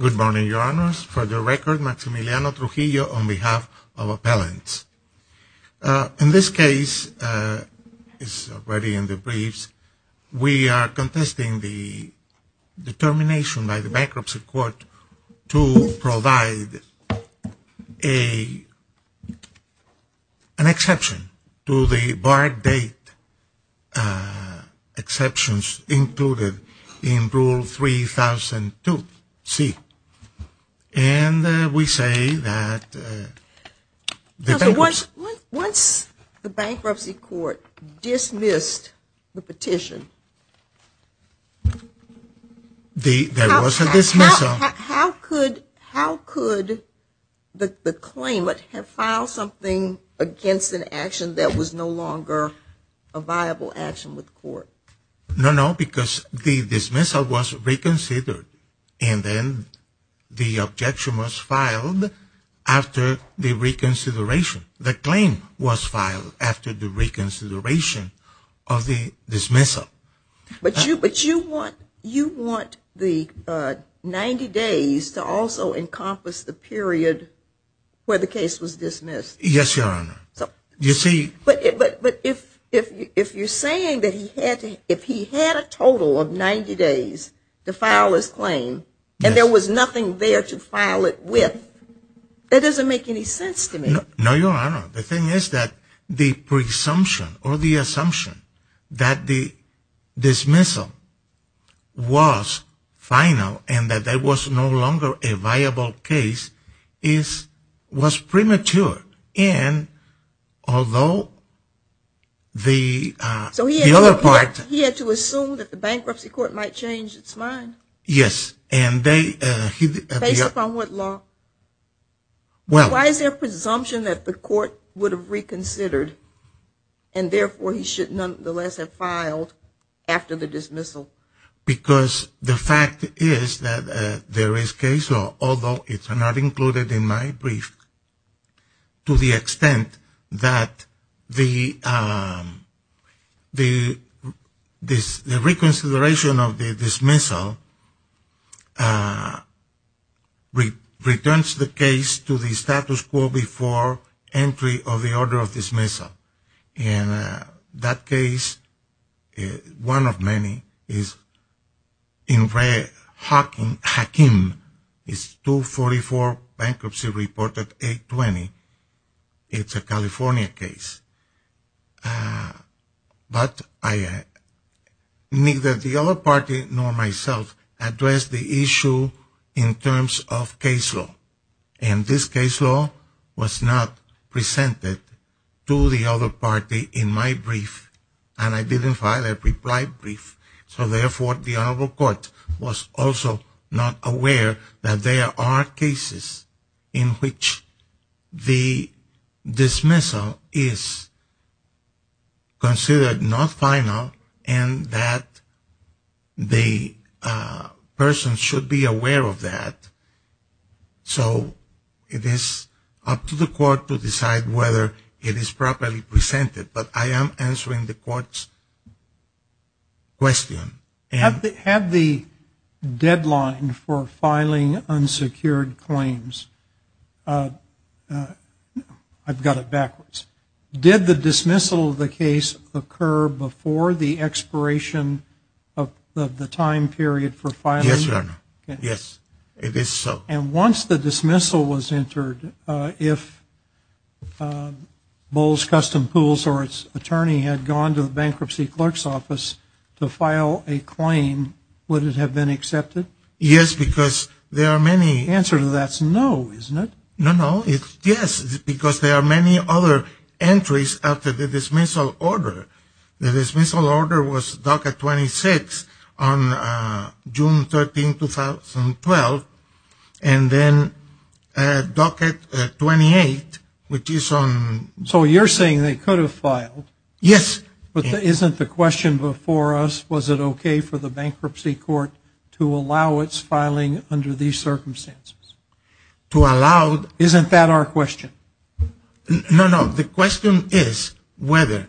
Good morning, Your Honors. For the record, Maximiliano Trujillo on behalf of Appellants. In this case, as already in the briefs, we are contesting the determination by the Bankruptcy Court to provide an exception to the barred date exceptions included in Rule 3002C. Once the Bankruptcy Court dismissed the petition, how could the claimant have filed something against an action that was no longer a viable action with court? No, no, because the dismissal was reconsidered and then the objection was filed after the reconsideration. The claim was filed after the reconsideration of the dismissal. But you want the 90 days to also encompass the period where the case was dismissed? Yes, Your Honor. But if you're saying that if he had a total of 90 days to file his claim and there was nothing there to file it with, that doesn't make any sense to me. No, Your Honor. The thing is that the presumption or the assumption that the dismissal was final and that there was no longer a viable case was premature. So he had to assume that the Bankruptcy Court might change its mind? Yes. Based upon what law? Why is there a presumption that the court would have reconsidered and therefore he should nonetheless have filed after the dismissal? Because the fact is that there is case law, although it's not included in my brief, to the extent that the reconsideration of the dismissal returns the case to the status quo before entry of the order of dismissal. And that case, one of many, is Hakeem 244 Bankruptcy Report 820. It's a California case. But neither the other party nor myself addressed the issue in terms of case law, and this case law was not presented to the other party in my brief and I didn't file a reply brief. So therefore the Honorable Court was also not aware that there are cases in which the dismissal is considered not final and that the person should be aware of that. So it is up to the court to decide whether it is properly presented, but I am answering the court's question. Had the deadline for filing unsecured claims, I've got it backwards, did the dismissal of the case occur before the expiration of the time period for filing? Yes, Your Honor. Yes, it is so. And once the dismissal was entered, if Bowles Custom Pools or its attorney had gone to the Bankruptcy Clerk's Office to file a claim, would it have been accepted? Yes, because there are many... The answer to that is no, isn't it? No, no. Yes, because there are many other entries after the dismissal order. The dismissal order was docket 26 on June 13, 2012, and then docket 28, which is on... So you're saying they could have filed? Yes. But isn't the question before us, was it okay for the Bankruptcy Court to allow its filing under these circumstances? Isn't that our question? No, no. The question is whether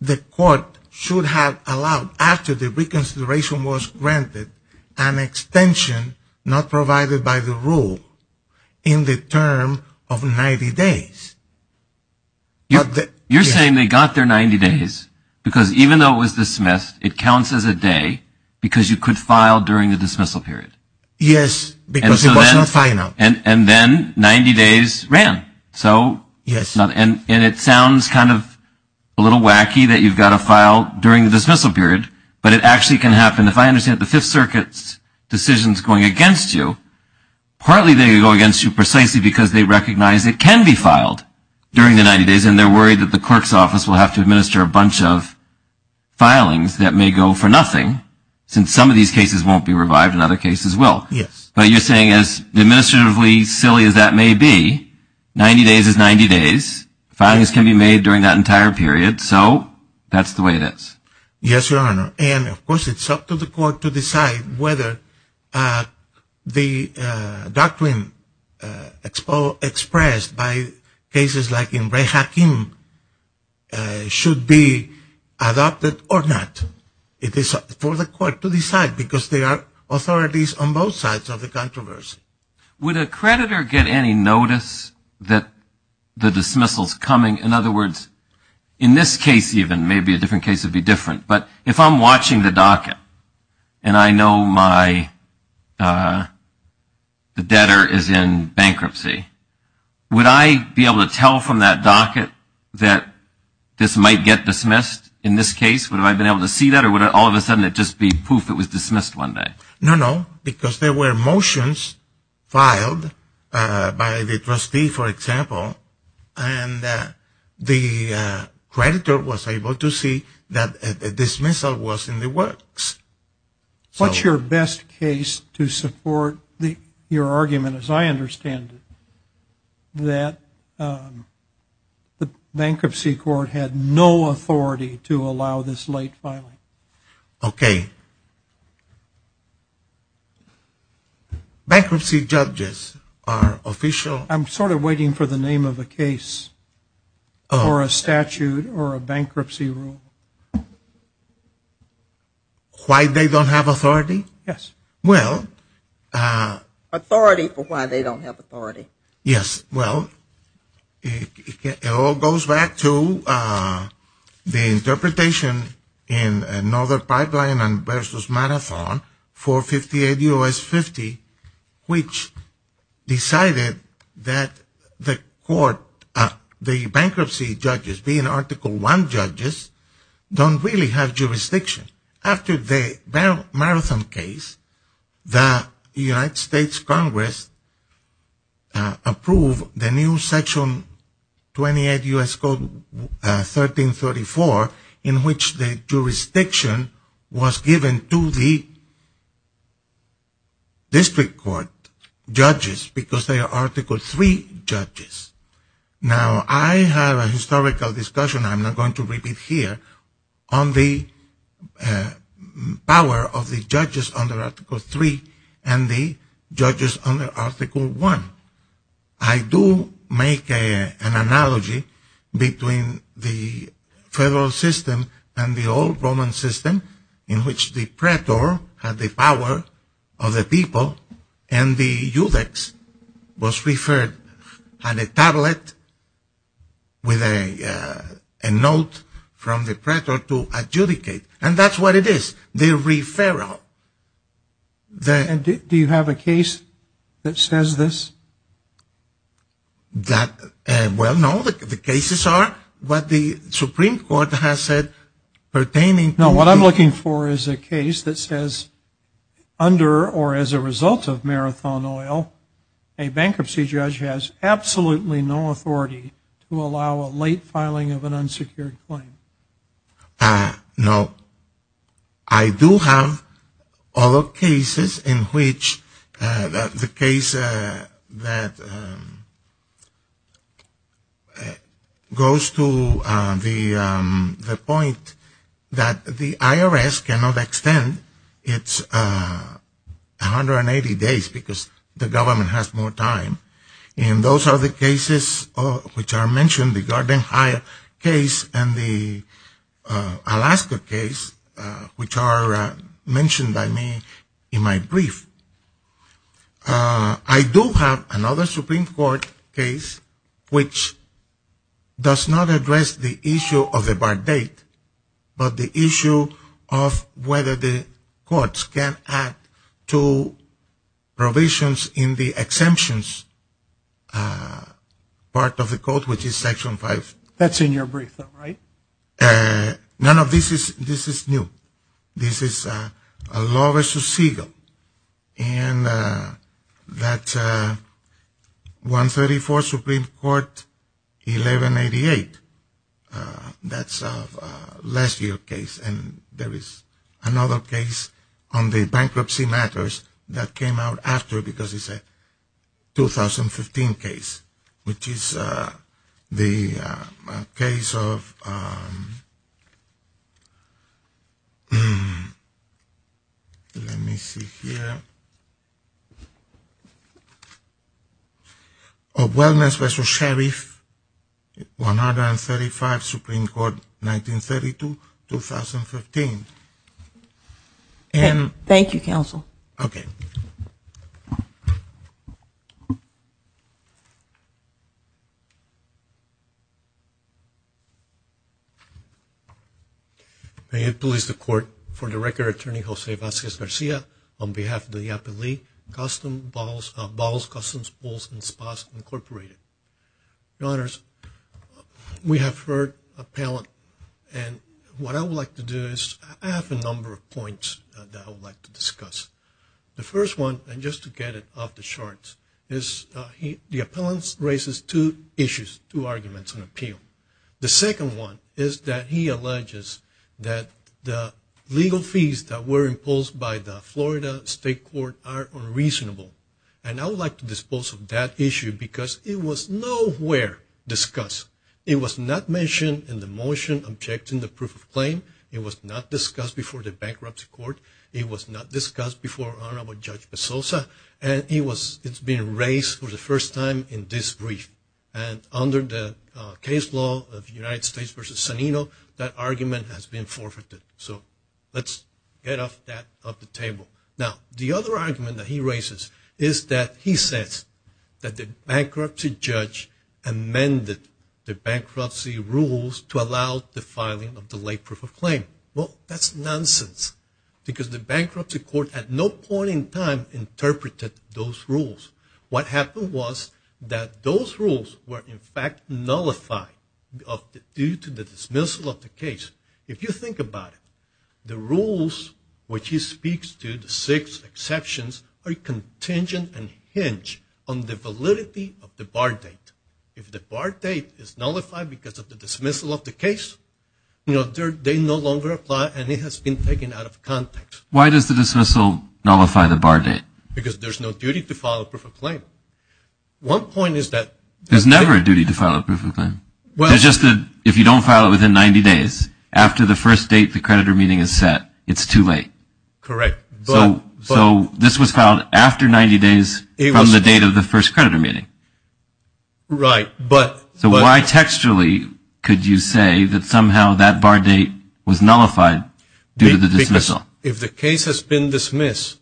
the court should have allowed, after the reconsideration was granted, an extension not provided by the rule in the term of 90 days. You're saying they got their 90 days because even though it was dismissed, it counts as a day because you could file during the dismissal period? Yes, because it was not final. And then 90 days ran. Yes. And it sounds kind of a little wacky that you've got to file during the dismissal period, but it actually can happen. If I understand it, the Fifth Circuit's decisions going against you, partly they go against you precisely because they recognize it can be filed during the 90 days, and they're worried that the clerk's office will have to administer a bunch of filings that may go for nothing since some of these cases won't be revived and other cases will. Yes. But you're saying as administratively silly as that may be, 90 days is 90 days. Filings can be made during that entire period, so that's the way it is. Yes, Your Honor. And, of course, it's up to the court to decide whether the doctrine expressed by cases like Ibrahim Hakim should be adopted or not. It is for the court to decide because there are authorities on both sides of the controversy. Would a creditor get any notice that the dismissal's coming? In other words, in this case even, maybe a different case would be different, but if I'm watching the docket and I know the debtor is in bankruptcy, would I be able to tell from that docket that this might get dismissed in this case? Would I have been able to see that or would it all of a sudden just be poof, it was dismissed one day? No, no, because there were motions filed by the trustee, for example, and the creditor was able to see that a dismissal was in the works. What's your best case to support your argument, as I understand it, that the bankruptcy court had no authority to allow this late filing? Okay. Bankruptcy judges are official. I'm sort of waiting for the name of a case or a statute or a bankruptcy rule. Why they don't have authority? Yes. Authority for why they don't have authority. Yes, well, it all goes back to the interpretation in another pipeline and versus Marathon 458 U.S. 50, which decided that the bankruptcy judges, being Article I judges, don't really have jurisdiction. After the Marathon case, the United States Congress approved the new Section 28 U.S. Code 1334, in which the jurisdiction was given to the district court judges because they are Article III judges. Now, I have a historical discussion, I'm not going to repeat here, on the power of the judges under Article III and the judges under Article I. I do make an analogy between the federal system and the old Roman system, in which the praetor had the power of the people and the iudex was referred on a tablet with a note from the praetor to adjudicate. And that's what it is, the referral. Do you have a case that says this? Well, no. The cases are what the Supreme Court has said pertaining to the… What I'm looking for is a case that says under or as a result of Marathon Oil, a bankruptcy judge has absolutely no authority to allow a late filing of an unsecured claim. Now, I do have other cases in which the case that goes to the point that the IRS cannot extend its 180 days because the government has more time. And those are the cases which are mentioned, the Garden High case and the Alaska case, which are mentioned by me in my brief. I do have another Supreme Court case which does not address the issue of the part date, but the issue of whether the courts can add to provisions in the exemptions part of the court, which is Section 5. That's in your brief, right? None of this is new. This is a Law v. Siegel, and that's 134 Supreme Court 1188. That's a last year case, and there is another case on the bankruptcy matters that came out after because it's a 2015 case, which is the case of, let me see here, of Wellness v. Sheriff, 135 Supreme Court, 1932, 2015. Thank you, Counsel. Okay. May it please the Court, for the record, Attorney Jose Vasquez-Garcia, on behalf of the appellee, Bottles, Customs, Bulls, and Spas, Incorporated. Your Honors, we have heard appellant, and what I would like to do is, I have a number of points that I would like to discuss. The first one, and just to get it off the charts, is the appellant raises two issues, two arguments on appeal. The second one is that he alleges that the legal fees that were imposed by the Florida State Court are unreasonable, and I would like to dispose of that issue because it was nowhere discussed. It was not mentioned in the motion objecting the proof of claim. It was not discussed before the bankruptcy court. It was not discussed before Honorable Judge Bezosa, and it's been raised for the first time in this brief. And under the case law of United States v. Sanino, that argument has been forfeited. So, let's get that off the table. Now, the other argument that he raises is that he says that the bankruptcy judge amended the bankruptcy rules to allow the filing of the late proof of claim. Well, that's nonsense. Because the bankruptcy court at no point in time interpreted those rules. What happened was that those rules were in fact nullified due to the dismissal of the case. If you think about it, the rules which he speaks to, the six exceptions, are contingent and hinge on the validity of the bar date. If the bar date is nullified because of the dismissal of the case, they no longer apply and it has been taken out of context. Why does the dismissal nullify the bar date? Because there's no duty to file a proof of claim. There's never a duty to file a proof of claim. If you don't file it within 90 days, after the first date the creditor meeting is set, it's too late. Correct. So, this was filed after 90 days from the date of the first creditor meeting. Right, but... So, why textually could you say that somehow that bar date was nullified due to the dismissal? Because if the case has been dismissed,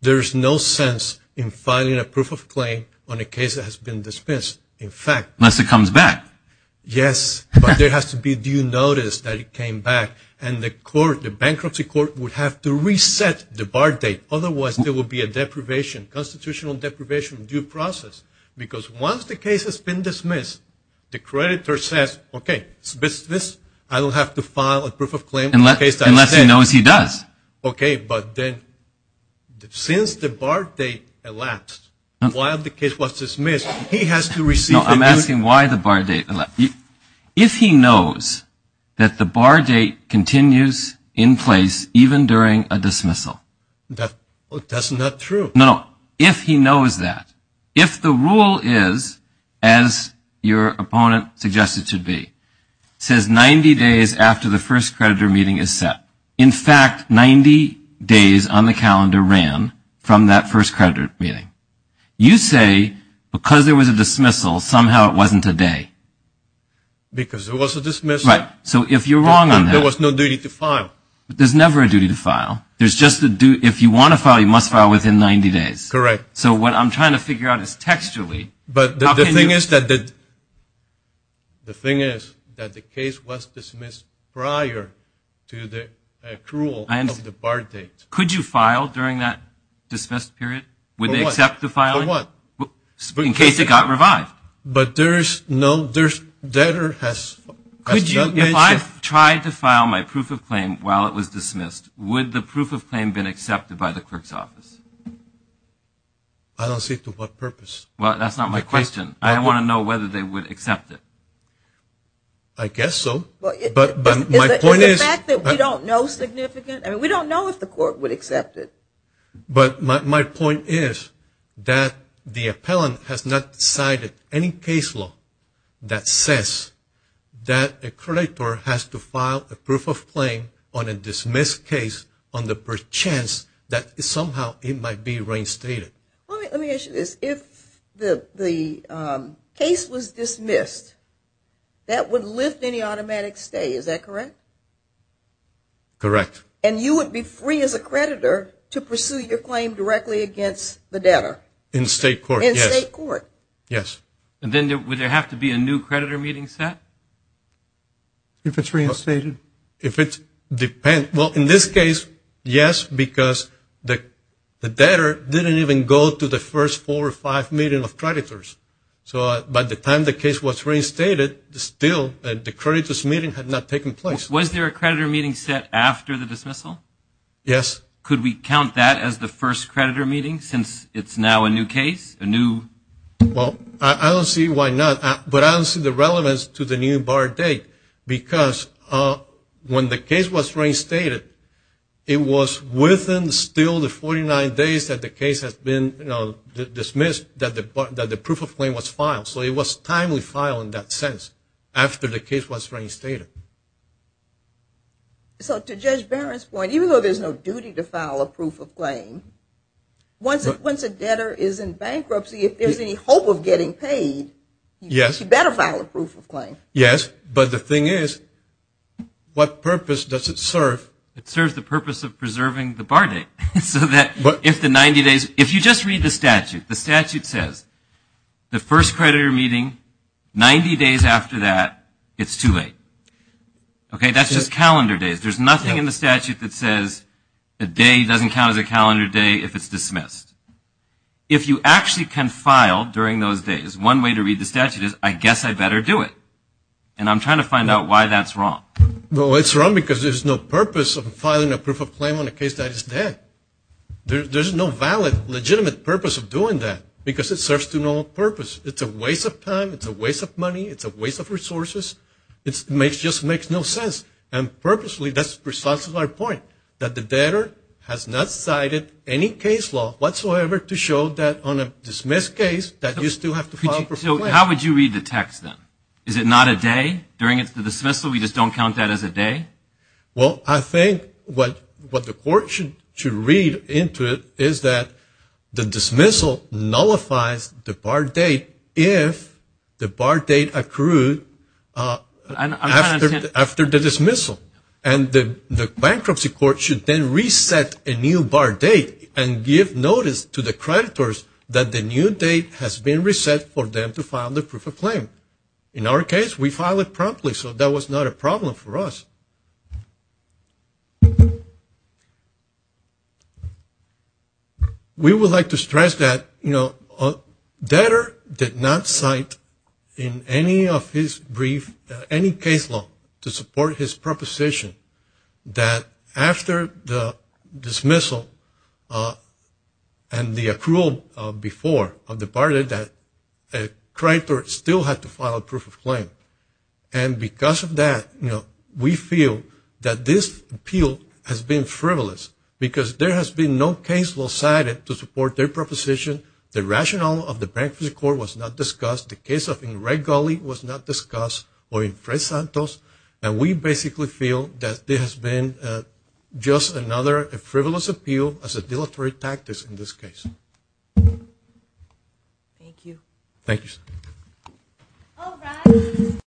there's no sense in filing a proof of claim on a case that has been dismissed. In fact... Unless it comes back. Yes, but there has to be due notice that it came back. And the court, the bankruptcy court, would have to reset the bar date. Otherwise, there would be a deprivation, constitutional deprivation, due process. Because once the case has been dismissed, the creditor says, okay, it's dismissed. I don't have to file a proof of claim on a case that has been... Unless he knows he does. Okay, but then, since the bar date elapsed while the case was dismissed, he has to receive... No, I'm asking why the bar date elapsed. If he knows that the bar date continues in place even during a dismissal... That's not true. No, if he knows that. If the rule is, as your opponent suggested it to be, says 90 days after the first creditor meeting is set. In fact, 90 days on the calendar ran from that first creditor meeting. You say, because there was a dismissal, somehow it wasn't a day. Because there was a dismissal. Right, so if you're wrong on that... There was no duty to file. There's never a duty to file. If you want to file, you must file within 90 days. Correct. So what I'm trying to figure out is textually... But the thing is that the case was dismissed prior to the accrual of the bar date. Could you file during that dismissed period? Would they accept the filing? In case it got revived. But there's no... If I tried to file my proof of claim while it was dismissed, would the proof of claim been accepted by the clerk's office? I don't see to what purpose. Well, that's not my question. I want to know whether they would accept it. I guess so. Is the fact that we don't know significant? We don't know if the court would accept it. But my point is that the appellant has not decided any case law that says that a creditor has to file a proof of claim on a dismissed case on the perchance that somehow it might be reinstated. Let me ask you this. If the case was dismissed, that would lift any automatic stay. Is that correct? And you would be free as a creditor to pursue your claim directly against the debtor? In state court, yes. In state court? Yes. And then would there have to be a new creditor meeting set if it's reinstated? If it depends. Well, in this case, yes, because the debtor didn't even go to the first four or five meetings of creditors. So by the time the case was reinstated, still the creditors' meeting had not taken place. Was there a creditor meeting set after the dismissal? Yes. Could we count that as the first creditor meeting since it's now a new case, a new? Well, I don't see why not. But I don't see the relevance to the new bar date because when the case was reinstated, it was within still the 49 days that the case has been dismissed that the proof of claim was filed. So it was timely filed in that sense after the case was reinstated. So to Judge Barron's point, even though there's no duty to file a proof of claim, once a debtor is in bankruptcy, if there's any hope of getting paid, you better file a proof of claim. Yes, but the thing is, what purpose does it serve? It serves the purpose of preserving the bar date. If you just read the statute, the statute says the first creditor meeting, 90 days after that, it's too late. Okay, that's just calendar days. There's nothing in the statute that says a day doesn't count as a calendar day if it's dismissed. If you actually can file during those days, one way to read the statute is, I guess I better do it. And I'm trying to find out why that's wrong. Well, it's wrong because there's no purpose of filing a proof of claim on a case that is dead. There's no valid, legitimate purpose of doing that because it serves no purpose. It's a waste of time. It's a waste of money. It's a waste of resources. It just makes no sense. And purposely, that's precisely my point, that the debtor has not cited any case law whatsoever to show that on a dismissed case, that you still have to file a proof of claim. So how would you read the text then? Is it not a day during the dismissal? We just don't count that as a day? Well, I think what the court should read into it is that the dismissal nullifies the bar date if the bar date accrued after the dismissal. And the bankruptcy court should then reset a new bar date and give notice to the creditors that the new date has been reset for them to file the proof of claim. In our case, we filed it promptly, so that was not a problem for us. We would like to stress that, you know, debtor did not cite in any of his brief any case law to support his proposition that after the dismissal and the accrual before of the bar date that a creditor still had to file a proof of claim. And because of that, you know, we feel that this appeal has been frivolous because there has been no case law cited to support their proposition. The rationale of the bankruptcy court was not discussed. The case of Enrique Gulley was not discussed or Enrique Santos. And we basically feel that there has been just another frivolous appeal as a deleterious tactics in this case. Thank you. Thank you. Thank you. All rise.